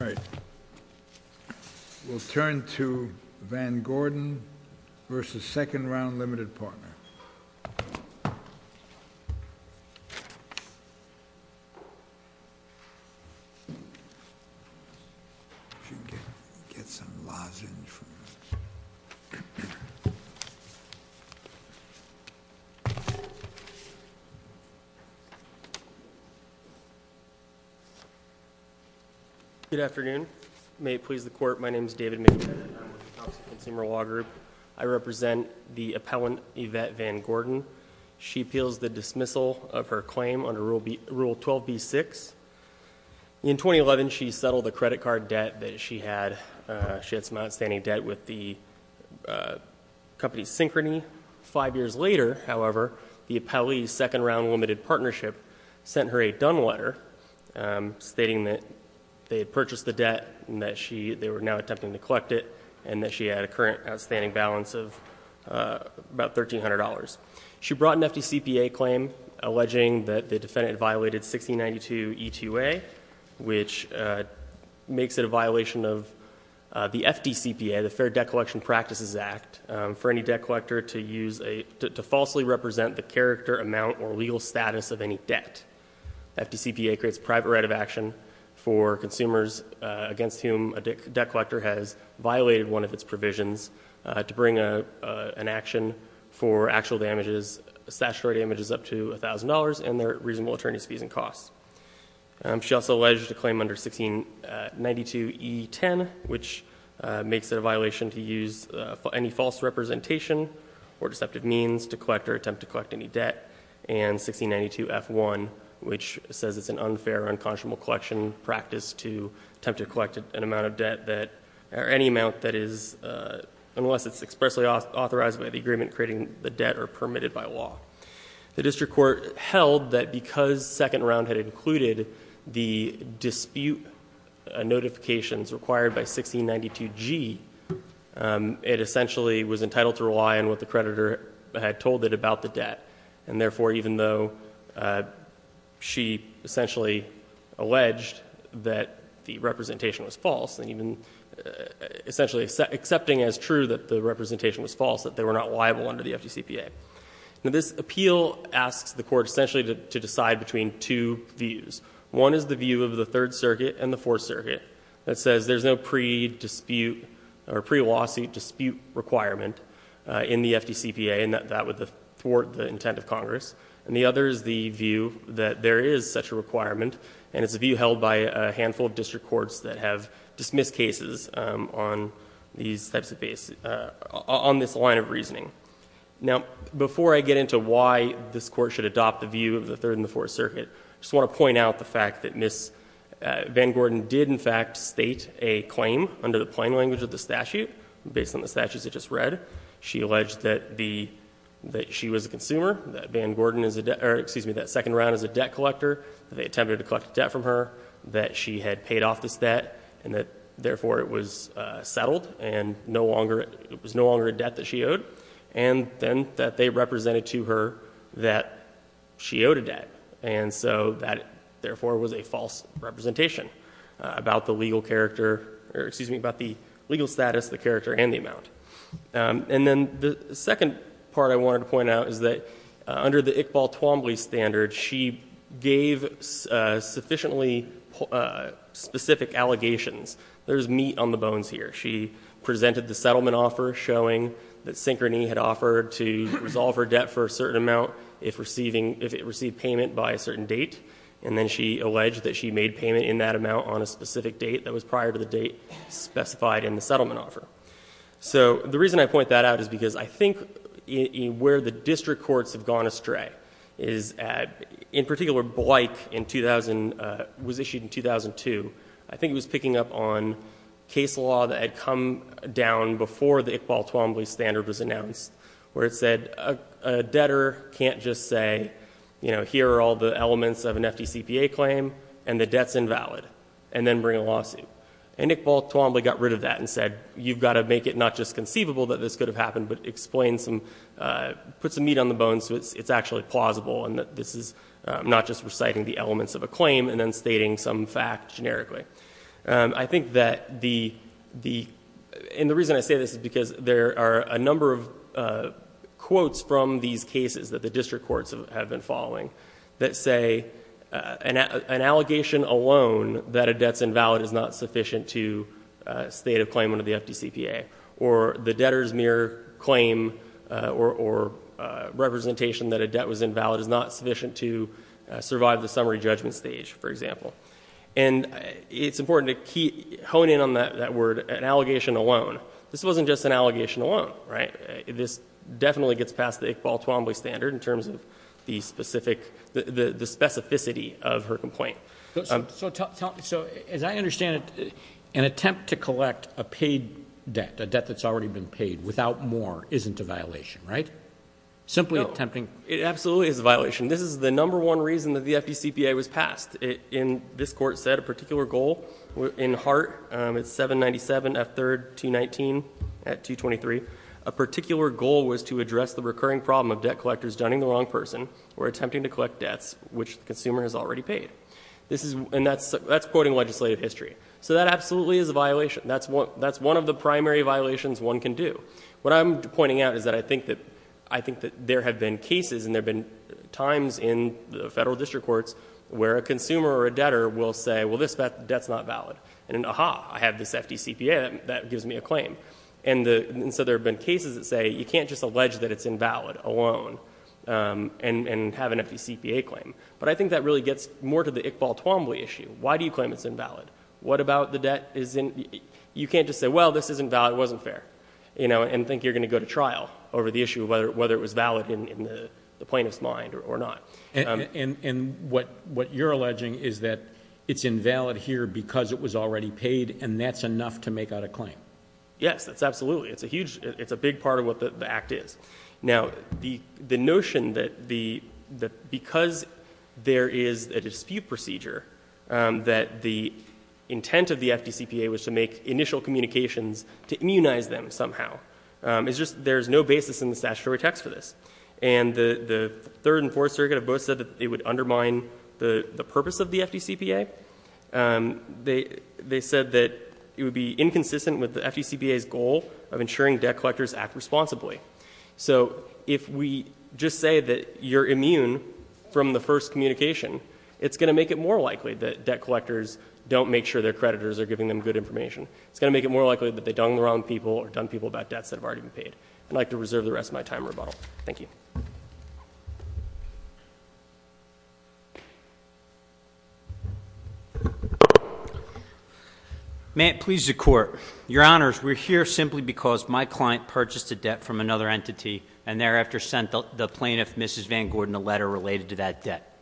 All right. We'll turn to Vangorden v. Second Round, Limited Partner. Good afternoon. May it please the Court, my name is David McBain. I represent the Appellant Yvette Vangorden. She appeals the dismissal of her claim under Rule 12b-6. In 2011, she settled the credit card debt that she had. She had some outstanding debt with the company Synchrony. Five years later, however, the Appellee's Second Round Limited Partnership sent her a done letter stating that they had purchased the debt and that they were now $1,300. She brought an FDCPA claim alleging that the defendant violated 1692 E-2A, which makes it a violation of the FDCPA, the Fair Debt Collection Practices Act, for any debt collector to falsely represent the character, amount, or legal status of any debt. FDCPA creates private right of action for consumers against whom a debt collector has violated one of its provisions to bring an action for actual damages, statutory damages up to $1,000, and their reasonable attorney's fees and costs. She also alleged a claim under 1692 E-10, which makes it a violation to use any false representation or deceptive means to collect or attempt to collect any debt, and 1692 F-1, which says it's an unfair, unconscionable collection practice to attempt to collect an amount of debt that, or any amount that is, unless it's expressly authorized by the agreement creating the debt or permitted by law. The district court held that because Second Round had included the dispute notifications required by 1692 G, it essentially was entitled to rely on what the creditor had told it about the debt. And therefore, even though she essentially alleged that the representation was false, and even essentially accepting as true that the representation was false, that they were not liable under the FDCPA. Now, this appeal asks the court essentially to decide between two views. One is the view of the Third Circuit and the Fourth Circuit that says there's no pre-dispute or pre-lawsuit dispute requirement in the FDCPA, and that would thwart the intent of Congress. And the other is the view that there is such a requirement, and it's a view held by a handful of district courts that have dismissed cases on these types of cases, on this line of reasoning. Now, before I get into why this Court should adopt the view of the Third and the Fourth Circuit, I just want to point out the fact that Ms. Van Gordon did, in fact, state a claim under the plain language of the statute, based on the statutes I just read. She alleged that the, that she was a consumer, that Van Gordon is a debt, or excuse me, that second round is a debt collector, that they attempted to collect a debt from her, that she had paid off this debt, and that therefore it was settled, and no longer, it was no longer a debt that she owed, and then that they represented to her that she owed a debt. And so that, therefore, was a false representation about the legal character, or excuse me, about the legal status, the character, and the amount. And then the second part I wanted to point out is that under the Iqbal-Twombly standard, she gave sufficiently specific allegations. There's meat on the bones here. She presented the settlement offer showing that Synchrony had offered to resolve her debt for a certain amount if receiving, if it received payment by a certain date, and then she alleged that she made payment in that amount on a specific date that was prior to the date specified in the settlement offer. So the reason I point that out is because I think where the district courts have gone astray is, in particular, Bleich in 2000, was issued in 2002, I think it was picking up on case law that had come down before the Iqbal-Twombly standard was announced, where it said a debtor can't just say, you know, here are all the elements of an FDCPA claim, and the debt's invalid, and then bring a lawsuit. And Iqbal-Twombly got rid of that and said, you've got to make it not just conceivable that this could have happened, but explain some, put some meat on the bones so it's actually plausible and that this is not just reciting the elements of a claim and then stating some fact generically. I think that the, and the reason I say this is because there are a number of quotes from these cases that the district courts have been following that say, an allegation alone that a debt's invalid is not sufficient to state a claim under the FDCPA. Or the debtor's mere claim or representation that a debt was invalid is not sufficient to survive the summary judgment stage, for example. And it's important to keep, hone in on that word, an allegation alone. This wasn't just an allegation alone, right? This definitely gets past the Iqbal-Twombly standard in terms of the specific, the specificity of her complaint. So tell, so as I understand it, an attempt to collect a paid debt, a debt that's already been paid without more, isn't a violation, right? Simply attempting... No, it absolutely is a violation. This is the number one reason that the FDCPA was passed. In, this court said a particular goal, in Hart, it's 797 F3rd 219 at 223, a particular goal was to address the recurring problem of debt collectors dunning the wrong person or attempting to collect debts which the consumer has already paid. This is, and that's, that's quoting legislative history. So that absolutely is a violation. That's one, that's one of the primary violations one can do. What I'm pointing out is that I think that, I think that there have been cases and there have been times in the federal district courts where a consumer or a debtor will say, well, this debt's not valid. And, aha, I have this FDCPA that gives me a claim. And the, and so there have been cases that say you can't just allege that it's invalid alone and, and have an FDCPA claim. But I think that really gets more to the Iqbal-Twombly issue. Why do you claim it's invalid? What about the debt isn't, you can't just say, well, this isn't valid, it wasn't fair. You know, and think you're going to go to trial over the issue of whether it was valid in the plaintiff's mind or not. And, and, and what, what you're alleging is that it's invalid here because it was already paid and that's enough to make out a claim. Yes, that's absolutely. It's a huge, it's a big part of what the act is. Now, the, the notion that the, that because there is a dispute procedure, that the intent of the FDCPA was to make initial communications to immunize them somehow, is just, there's no basis in the statutory text for this. And the, the third and fourth circuit have both said that it would undermine the, the purpose of the FDCPA. They, they said that it would be inconsistent with the FDCPA's goal of ensuring debt collectors act responsibly. So if we just say that you're immune from the first communication, it's going to make it more likely that debt collectors don't make sure their creditors are giving them good information. It's going to make it more likely that they've done the wrong people or done people about debts that have already been paid. I'd like to reserve the rest of my time for rebuttal. Thank you. May it please the court. Your honors, we're here simply because my client purchased a debt from another entity and thereafter sent the plaintiff, Mrs. Van Gordon, a letter related to that debt.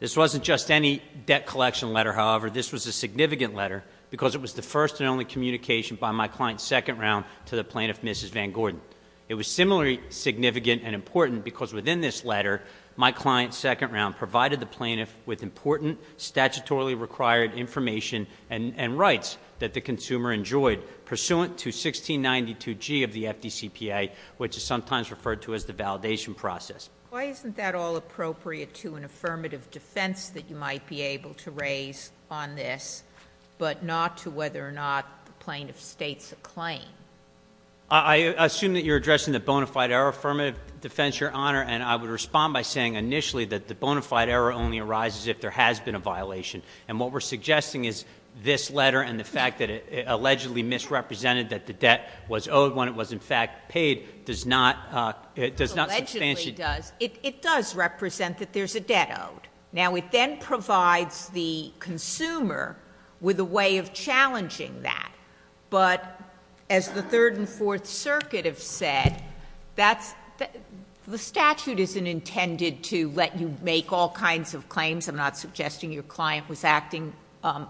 This wasn't just any debt collection letter, however. This was a significant letter because it was the first and only communication by my client's second round to the plaintiff, Mrs. Van Gordon. It was similarly significant and important because within this letter, my client's second round provided the plaintiff with important, statutorily required information and rights that the consumer enjoyed. Pursuant to 1692G of the FDCPA, which is sometimes referred to as the validation process. Why isn't that all appropriate to an affirmative defense that you might be able to raise on this? But not to whether or not the plaintiff states a claim. I assume that you're addressing the bona fide error affirmative defense, your honor. And I would respond by saying initially that the bona fide error only arises if there has been a violation. And what we're suggesting is this letter and the fact that it allegedly misrepresented that the debt was owed when it was in fact paid does not. It does not substantially. Allegedly does. It does represent that there's a debt owed. Now it then provides the consumer with a way of challenging that. But as the third and fourth circuit have said, the statute isn't intended to let you make all kinds of claims. I'm not suggesting your client was acting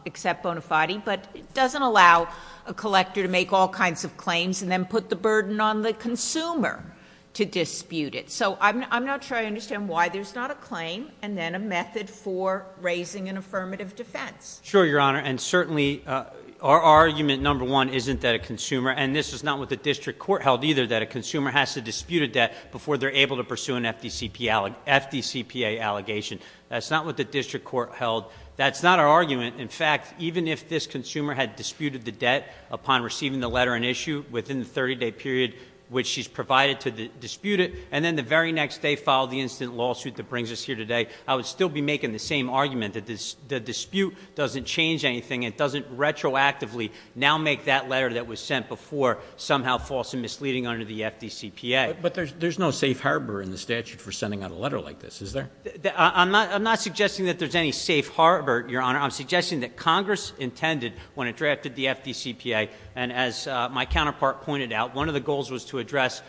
except bona fide. But it doesn't allow a collector to make all kinds of claims and then put the burden on the consumer to dispute it. So I'm not sure I understand why there's not a claim and then a method for raising an affirmative defense. Sure, your honor, and certainly our argument number one isn't that a consumer, and this is not what the district court held either, that a consumer has to dispute a debt before they're able to pursue an FDCPA allegation. That's not what the district court held. That's not our argument. In fact, even if this consumer had disputed the debt upon receiving the letter in issue within the 30 day period, which she's provided to dispute it, and then the very next day filed the instant lawsuit that brings us here today, I would still be making the same argument that the dispute doesn't change anything. It doesn't retroactively now make that letter that was sent before somehow false and misleading under the FDCPA. But there's no safe harbor in the statute for sending out a letter like this, is there? I'm not suggesting that there's any safe harbor, your honor. I'm suggesting that Congress intended when it drafted the FDCPA, and as my counterpart pointed out, one of the goals was to address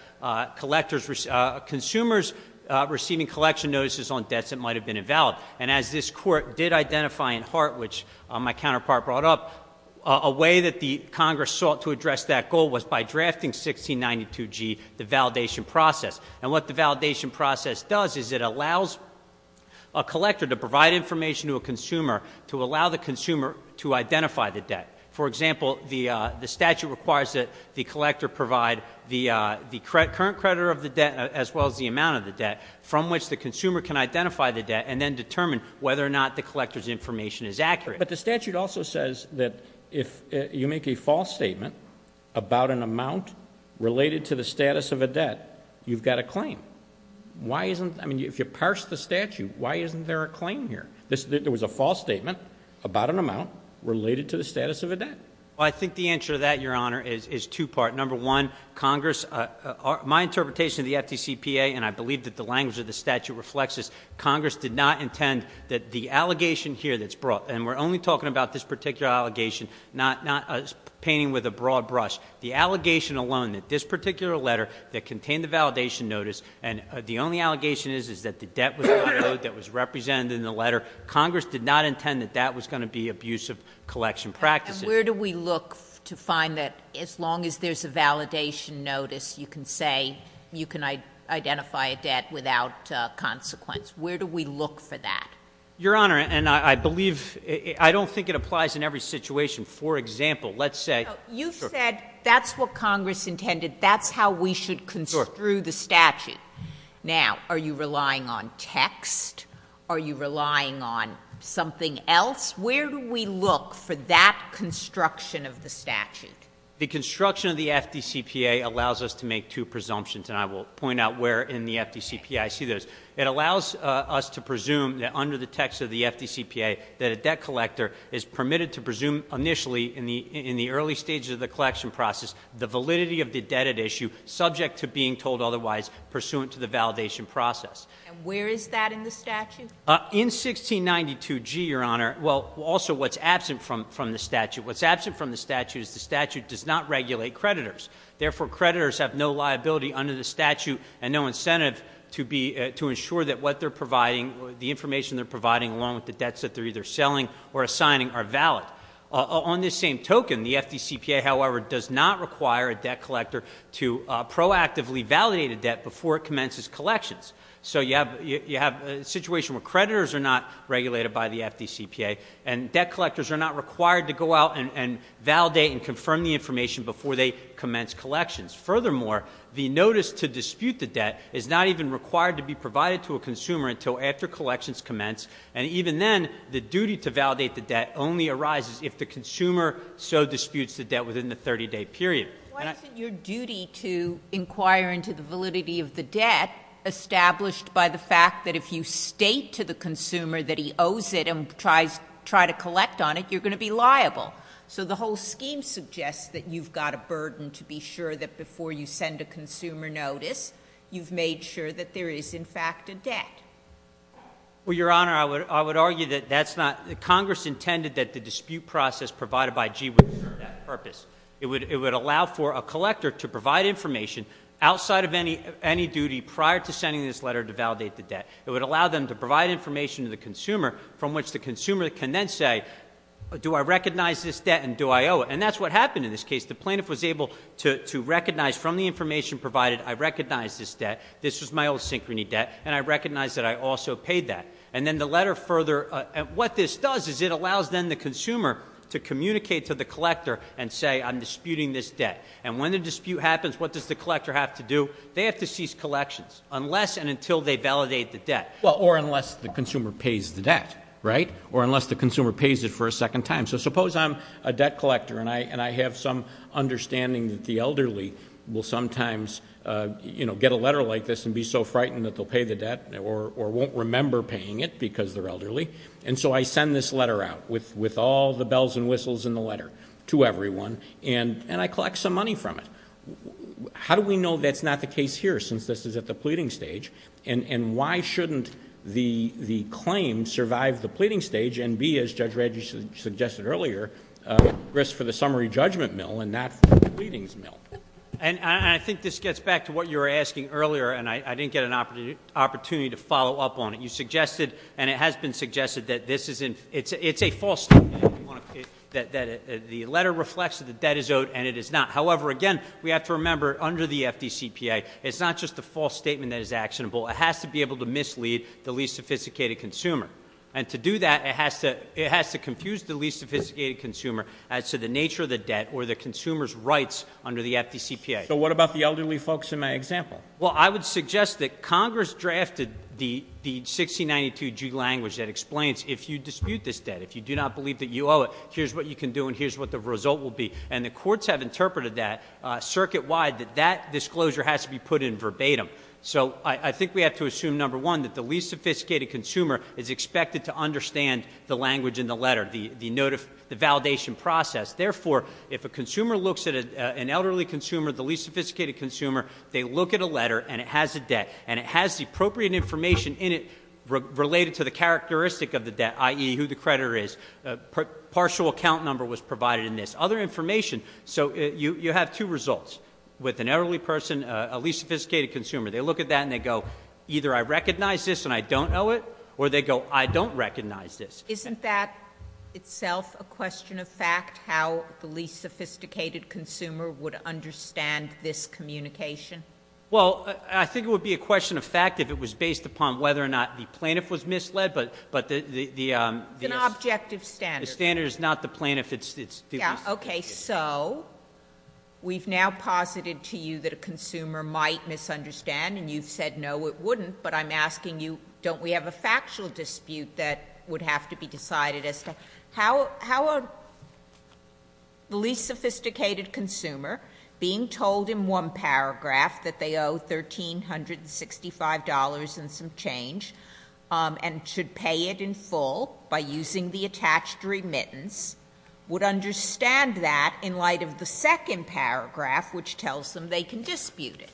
consumers receiving collection notices on debts that might have been invalid. And as this court did identify in heart, which my counterpart brought up, a way that the Congress sought to address that goal was by drafting 1692G, the validation process. And what the validation process does is it allows a collector to provide information to a consumer to allow the consumer to identify the debt. For example, the statute requires that the collector provide the current creditor of the debt as well as the amount of the debt, from which the consumer can identify the debt and then determine whether or not the collector's information is accurate. But the statute also says that if you make a false statement about an amount related to the status of a debt, you've got a claim. Why isn't, I mean, if you parse the statute, why isn't there a claim here? There was a false statement about an amount related to the status of a debt. I think the answer to that, your honor, is two part. Number one, Congress, my interpretation of the FDCPA, and I believe that the language of the statute reflects this, Congress did not intend that the allegation here that's brought, and we're only talking about this particular allegation, not painting with a broad brush, the allegation alone that this particular letter that contained the validation notice, and the only allegation is that the debt was on the note that was represented in the letter. Congress did not intend that that was going to be abuse of collection practices. Where do we look to find that, as long as there's a validation notice, you can say you can identify a debt without consequence? Where do we look for that? Your Honor, and I believe, I don't think it applies in every situation. For example, let's say- You said that's what Congress intended, that's how we should construe the statute. Now, are you relying on text? Are you relying on something else? Where do we look for that construction of the statute? The construction of the FDCPA allows us to make two presumptions, and I will point out where in the FDCPA I see those. It allows us to presume that under the text of the FDCPA, that a debt collector is permitted to presume, initially, in the early stages of the collection process, the validity of the debt at issue, subject to being told otherwise, pursuant to the validation process. Where is that in the statute? In 1692G, Your Honor, well, also what's absent from the statute. What's absent from the statute is the statute does not regulate creditors. Therefore, creditors have no liability under the statute and no incentive to ensure that what they're providing, the information they're providing along with the debts that they're either selling or assigning are valid. On this same token, the FDCPA, however, does not require a debt collector to proactively validate a debt before it commences collections. So you have a situation where creditors are not regulated by the FDCPA, and validate and confirm the information before they commence collections. Furthermore, the notice to dispute the debt is not even required to be provided to a consumer until after collections commence. And even then, the duty to validate the debt only arises if the consumer so disputes the debt within the 30 day period. And I- Why isn't your duty to inquire into the validity of the debt established by the fact that if you state to the consumer that he owes it and tries to collect on it, you're going to be liable? So the whole scheme suggests that you've got a burden to be sure that before you send a consumer notice, you've made sure that there is, in fact, a debt. Well, Your Honor, I would argue that that's not, that Congress intended that the dispute process provided by G would serve that purpose. It would allow for a collector to provide information outside of any duty prior to sending this letter to validate the debt. It would allow them to provide information to the consumer from which the consumer can then say, do I recognize this debt and do I owe it? And that's what happened in this case. The plaintiff was able to recognize from the information provided, I recognize this debt, this was my old synchrony debt, and I recognize that I also paid that. And then the letter further, what this does is it allows then the consumer to communicate to the collector and say, I'm disputing this debt. And when the dispute happens, what does the collector have to do? They have to cease collections, unless and until they validate the debt. Well, or unless the consumer pays the debt, right? Or unless the consumer pays it for a second time. So suppose I'm a debt collector and I have some understanding that the elderly will sometimes get a letter like this and be so frightened that they'll pay the debt or won't remember paying it because they're elderly. And so I send this letter out with all the bells and whistles in the letter to everyone, and I collect some money from it. How do we know that's not the case here, since this is at the pleading stage? And why shouldn't the claim survive the pleading stage and be, as Judge Radjic suggested earlier, at risk for the summary judgment mill and not the pleadings mill? And I think this gets back to what you were asking earlier, and I didn't get an opportunity to follow up on it. You suggested, and it has been suggested, that this is, it's a false statement. That the letter reflects that the debt is owed and it is not. However, again, we have to remember under the FDCPA, it's not just a false statement that is actionable. It has to be able to mislead the least sophisticated consumer. And to do that, it has to confuse the least sophisticated consumer as to the nature of the debt or the consumer's rights under the FDCPA. So what about the elderly folks in my example? Well, I would suggest that Congress drafted the 1692G language that explains if you dispute this debt, if you do not believe that you owe it, here's what you can do and here's what the result will be. And the courts have interpreted that circuit-wide, that that disclosure has to be put in verbatim. So I think we have to assume, number one, that the least sophisticated consumer is expected to understand the language in the letter, the validation process. Therefore, if a consumer looks at an elderly consumer, the least sophisticated consumer, they look at a letter and it has a debt. And it has the appropriate information in it related to the characteristic of the debt, i.e. who the creditor is, partial account number was provided in this. Other information, so you have two results with an elderly person, a least sophisticated consumer. They look at that and they go, either I recognize this and I don't owe it, or they go, I don't recognize this. Isn't that itself a question of fact, how the least sophisticated consumer would understand this communication? Well, I think it would be a question of fact if it was based upon whether or not the plaintiff was misled, but the- It's an objective standard. The standard is not the plaintiff, it's the- Yeah, okay, so we've now posited to you that a consumer might misunderstand, and you've said no, it wouldn't. But I'm asking you, don't we have a factual dispute that would have to be decided as to how the least sophisticated consumer, being told in one paragraph that they owe $1,365 and some change, and should pay it in full by using the attached remittance, would understand that in light of the second paragraph, which tells them they can dispute it?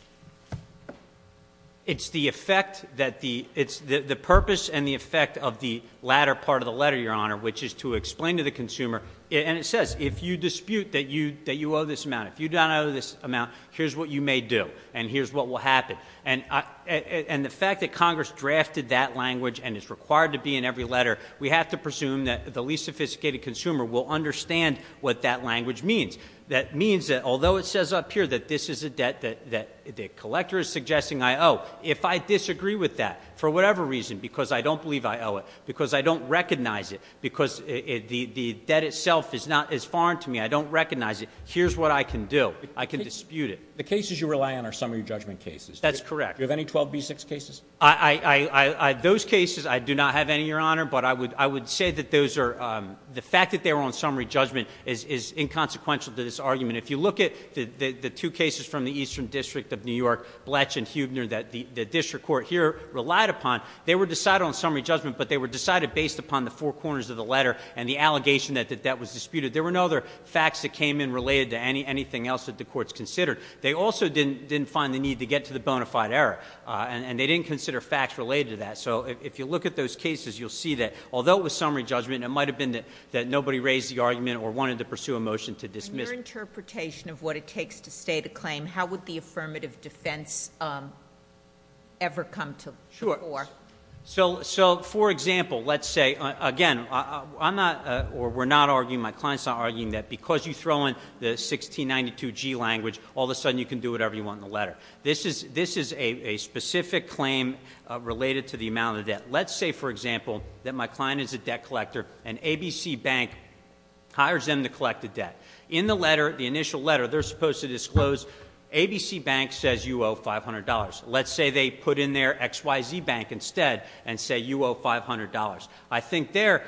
It's the effect that the, it's the purpose and the effect of the latter part of the letter, Your Honor, which is to explain to the consumer, and it says, if you dispute that you owe this amount, if you don't owe this amount, here's what you may do, and here's what will happen. And the fact that Congress drafted that language and it's required to be in every letter, we have to presume that the least sophisticated consumer will understand what that language means. That means that although it says up here that this is a debt that the collector is suggesting I owe, if I disagree with that for whatever reason, because I don't believe I owe it, because I don't recognize it, because the debt itself is not as foreign to me, I don't recognize it, here's what I can do. I can dispute it. The cases you rely on are summary judgment cases. Do you have any 12B6 cases? Those cases, I do not have any, Your Honor, but I would say that those are, the fact that they were on summary judgment is inconsequential to this argument. If you look at the two cases from the Eastern District of New York, Bletch and Huebner, that the district court here relied upon. They were decided on summary judgment, but they were decided based upon the four corners of the letter and the allegation that that was disputed. There were no other facts that came in related to anything else that the courts considered. They also didn't find the need to get to the bona fide error, and they didn't consider facts related to that. So if you look at those cases, you'll see that although it was summary judgment, it might have been that nobody raised the argument or wanted to pursue a motion to dismiss. In your interpretation of what it takes to state a claim, how would the affirmative defense ever come to the fore? So for example, let's say, again, I'm not, or we're not arguing, my client's not arguing that because you throw in the 1692G language, all of a sudden you can do whatever you want in the letter. This is a specific claim related to the amount of debt. Let's say, for example, that my client is a debt collector and ABC Bank hires them to collect the debt. In the letter, the initial letter, they're supposed to disclose ABC Bank says you owe $500. Let's say they put in there XYZ Bank instead and say you owe $500. I think there,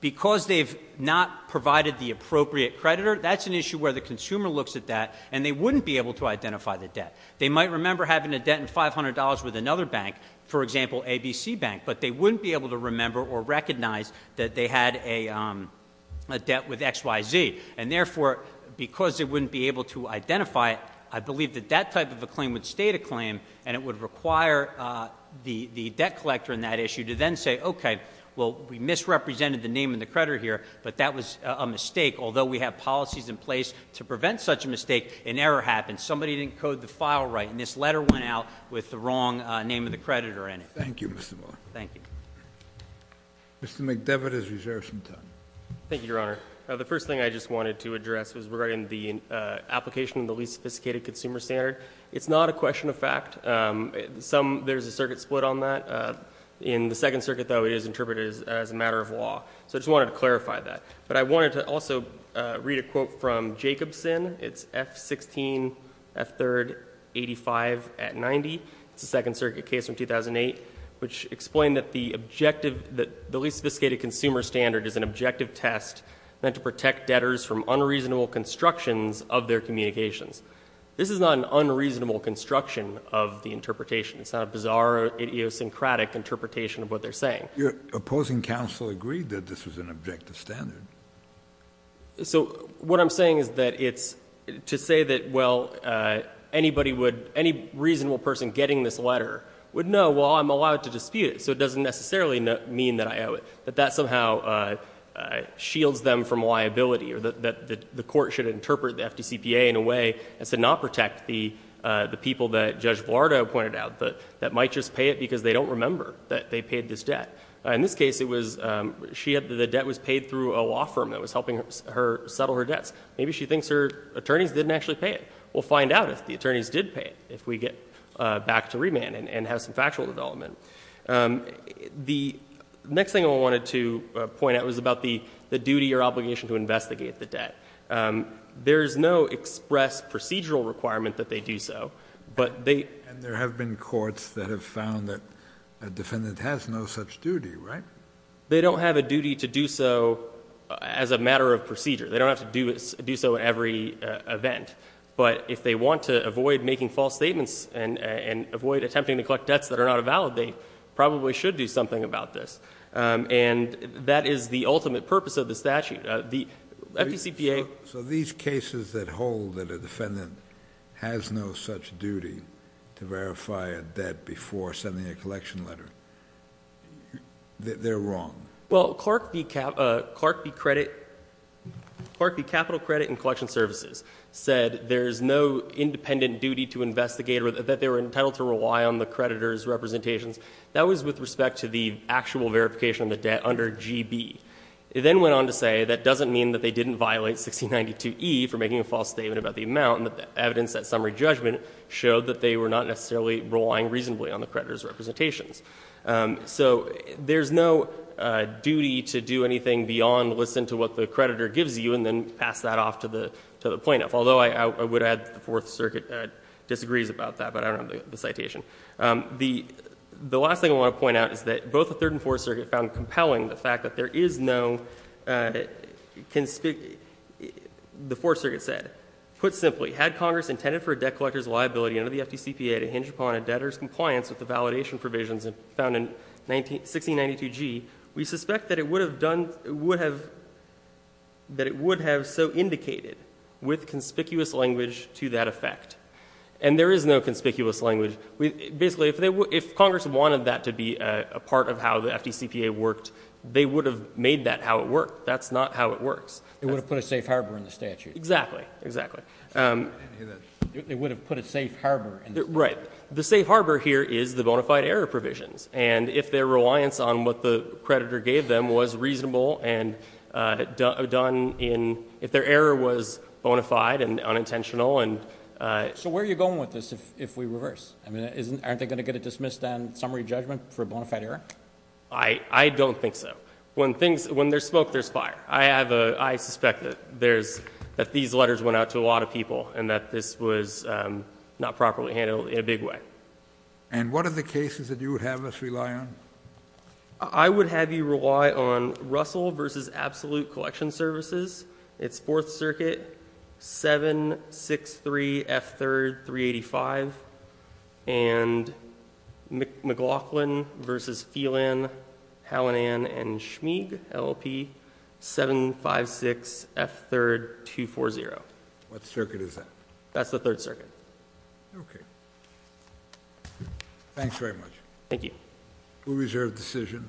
because they've not provided the appropriate creditor, that's an issue where the consumer looks at that and they wouldn't be able to identify the debt. They might remember having a debt in $500 with another bank, for example, ABC Bank, but they wouldn't be able to remember or recognize that they had a debt with XYZ. And therefore, because they wouldn't be able to identify it, I believe that that type of a claim would state a claim and it would require the debt collector in that issue to then say, okay, well, we misrepresented the name of the creditor here, but that was a mistake. Although we have policies in place to prevent such a mistake, an error happened. Somebody didn't code the file right, and this letter went out with the wrong name of the creditor in it. Thank you, Mr. Moore. Thank you. Mr. McDevitt has reserved some time. Thank you, Your Honor. The first thing I just wanted to address was regarding the application of the least sophisticated consumer standard. It's not a question of fact, there's a circuit split on that. In the Second Circuit, though, it is interpreted as a matter of law, so I just wanted to clarify that. But I wanted to also read a quote from Jacobson, it's F-16, F-3rd, 85 at 90. It's a Second Circuit case from 2008, which explained that the least sophisticated consumer standard is an objective test. Meant to protect debtors from unreasonable constructions of their communications. This is not an unreasonable construction of the interpretation. It's not a bizarre, idiosyncratic interpretation of what they're saying. Your opposing counsel agreed that this was an objective standard. So what I'm saying is that it's, to say that, well, any reasonable person getting this letter would know, well, I'm allowed to dispute it. So it doesn't necessarily mean that I owe it. But that somehow shields them from liability, or that the court should interpret the FDCPA in a way, as to not protect the people that Judge Blardo pointed out, that might just pay it because they don't remember that they paid this debt. In this case, the debt was paid through a law firm that was helping her settle her debts. Maybe she thinks her attorneys didn't actually pay it. We'll find out if the attorneys did pay it, if we get back to remand and have some factual development. The next thing I wanted to point out was about the duty or obligation to investigate the debt. There's no express procedural requirement that they do so, but they- And there have been courts that have found that a defendant has no such duty, right? They don't have a duty to do so as a matter of procedure. They don't have to do so in every event. But if they want to avoid making false statements and avoid attempting to collect debts that are not a valid, they probably should do something about this. And that is the ultimate purpose of the statute. The FDCPA- So these cases that hold that a defendant has no such duty to verify a debt before sending a collection letter, they're wrong? Well, Clark v. Capital Credit and Collection Services said there's no independent duty to investigate or that they were entitled to rely on the creditor's representations. That was with respect to the actual verification of the debt under GB. It then went on to say that doesn't mean that they didn't violate 1692E for making a false statement about the amount. And that the evidence at summary judgment showed that they were not necessarily relying reasonably on the creditor's representations. So there's no duty to do anything beyond listen to what the creditor gives you and then pass that off to the plaintiff. Although I would add that the Fourth Circuit disagrees about that, but I don't have the citation. The last thing I want to point out is that both the Third and Fourth Circuit found compelling the fact that there is no, the Fourth Circuit said, put simply, had Congress intended for a debt collector's liability under the FDCPA to hinge upon a debtor's compliance with validation provisions found in 1692G, we suspect that it would have done, would have, that it would have so indicated with conspicuous language to that effect. And there is no conspicuous language. Basically, if Congress wanted that to be a part of how the FDCPA worked, they would have made that how it worked. That's not how it works. It would have put a safe harbor in the statute. Exactly, exactly. It would have put a safe harbor. Right. The safe harbor here is the bona fide error provisions. And if their reliance on what the creditor gave them was reasonable and done in, if their error was bona fide and unintentional and- So where are you going with this if we reverse? I mean, aren't they going to get a dismissed and summary judgment for bona fide error? I don't think so. When there's smoke, there's fire. I have a, I suspect that there's, that these letters went out to a lot of people and that this was not properly handled in a big way. And what are the cases that you would have us rely on? I would have you rely on Russell versus Absolute Collection Services. It's Fourth Circuit 763F3, 385. And McLaughlin versus Phelan, Hallinan and Schmeig, LLP 756F3, 240. What circuit is that? That's the Third Circuit. Okay. Thanks very much. Thank you. We reserve decision.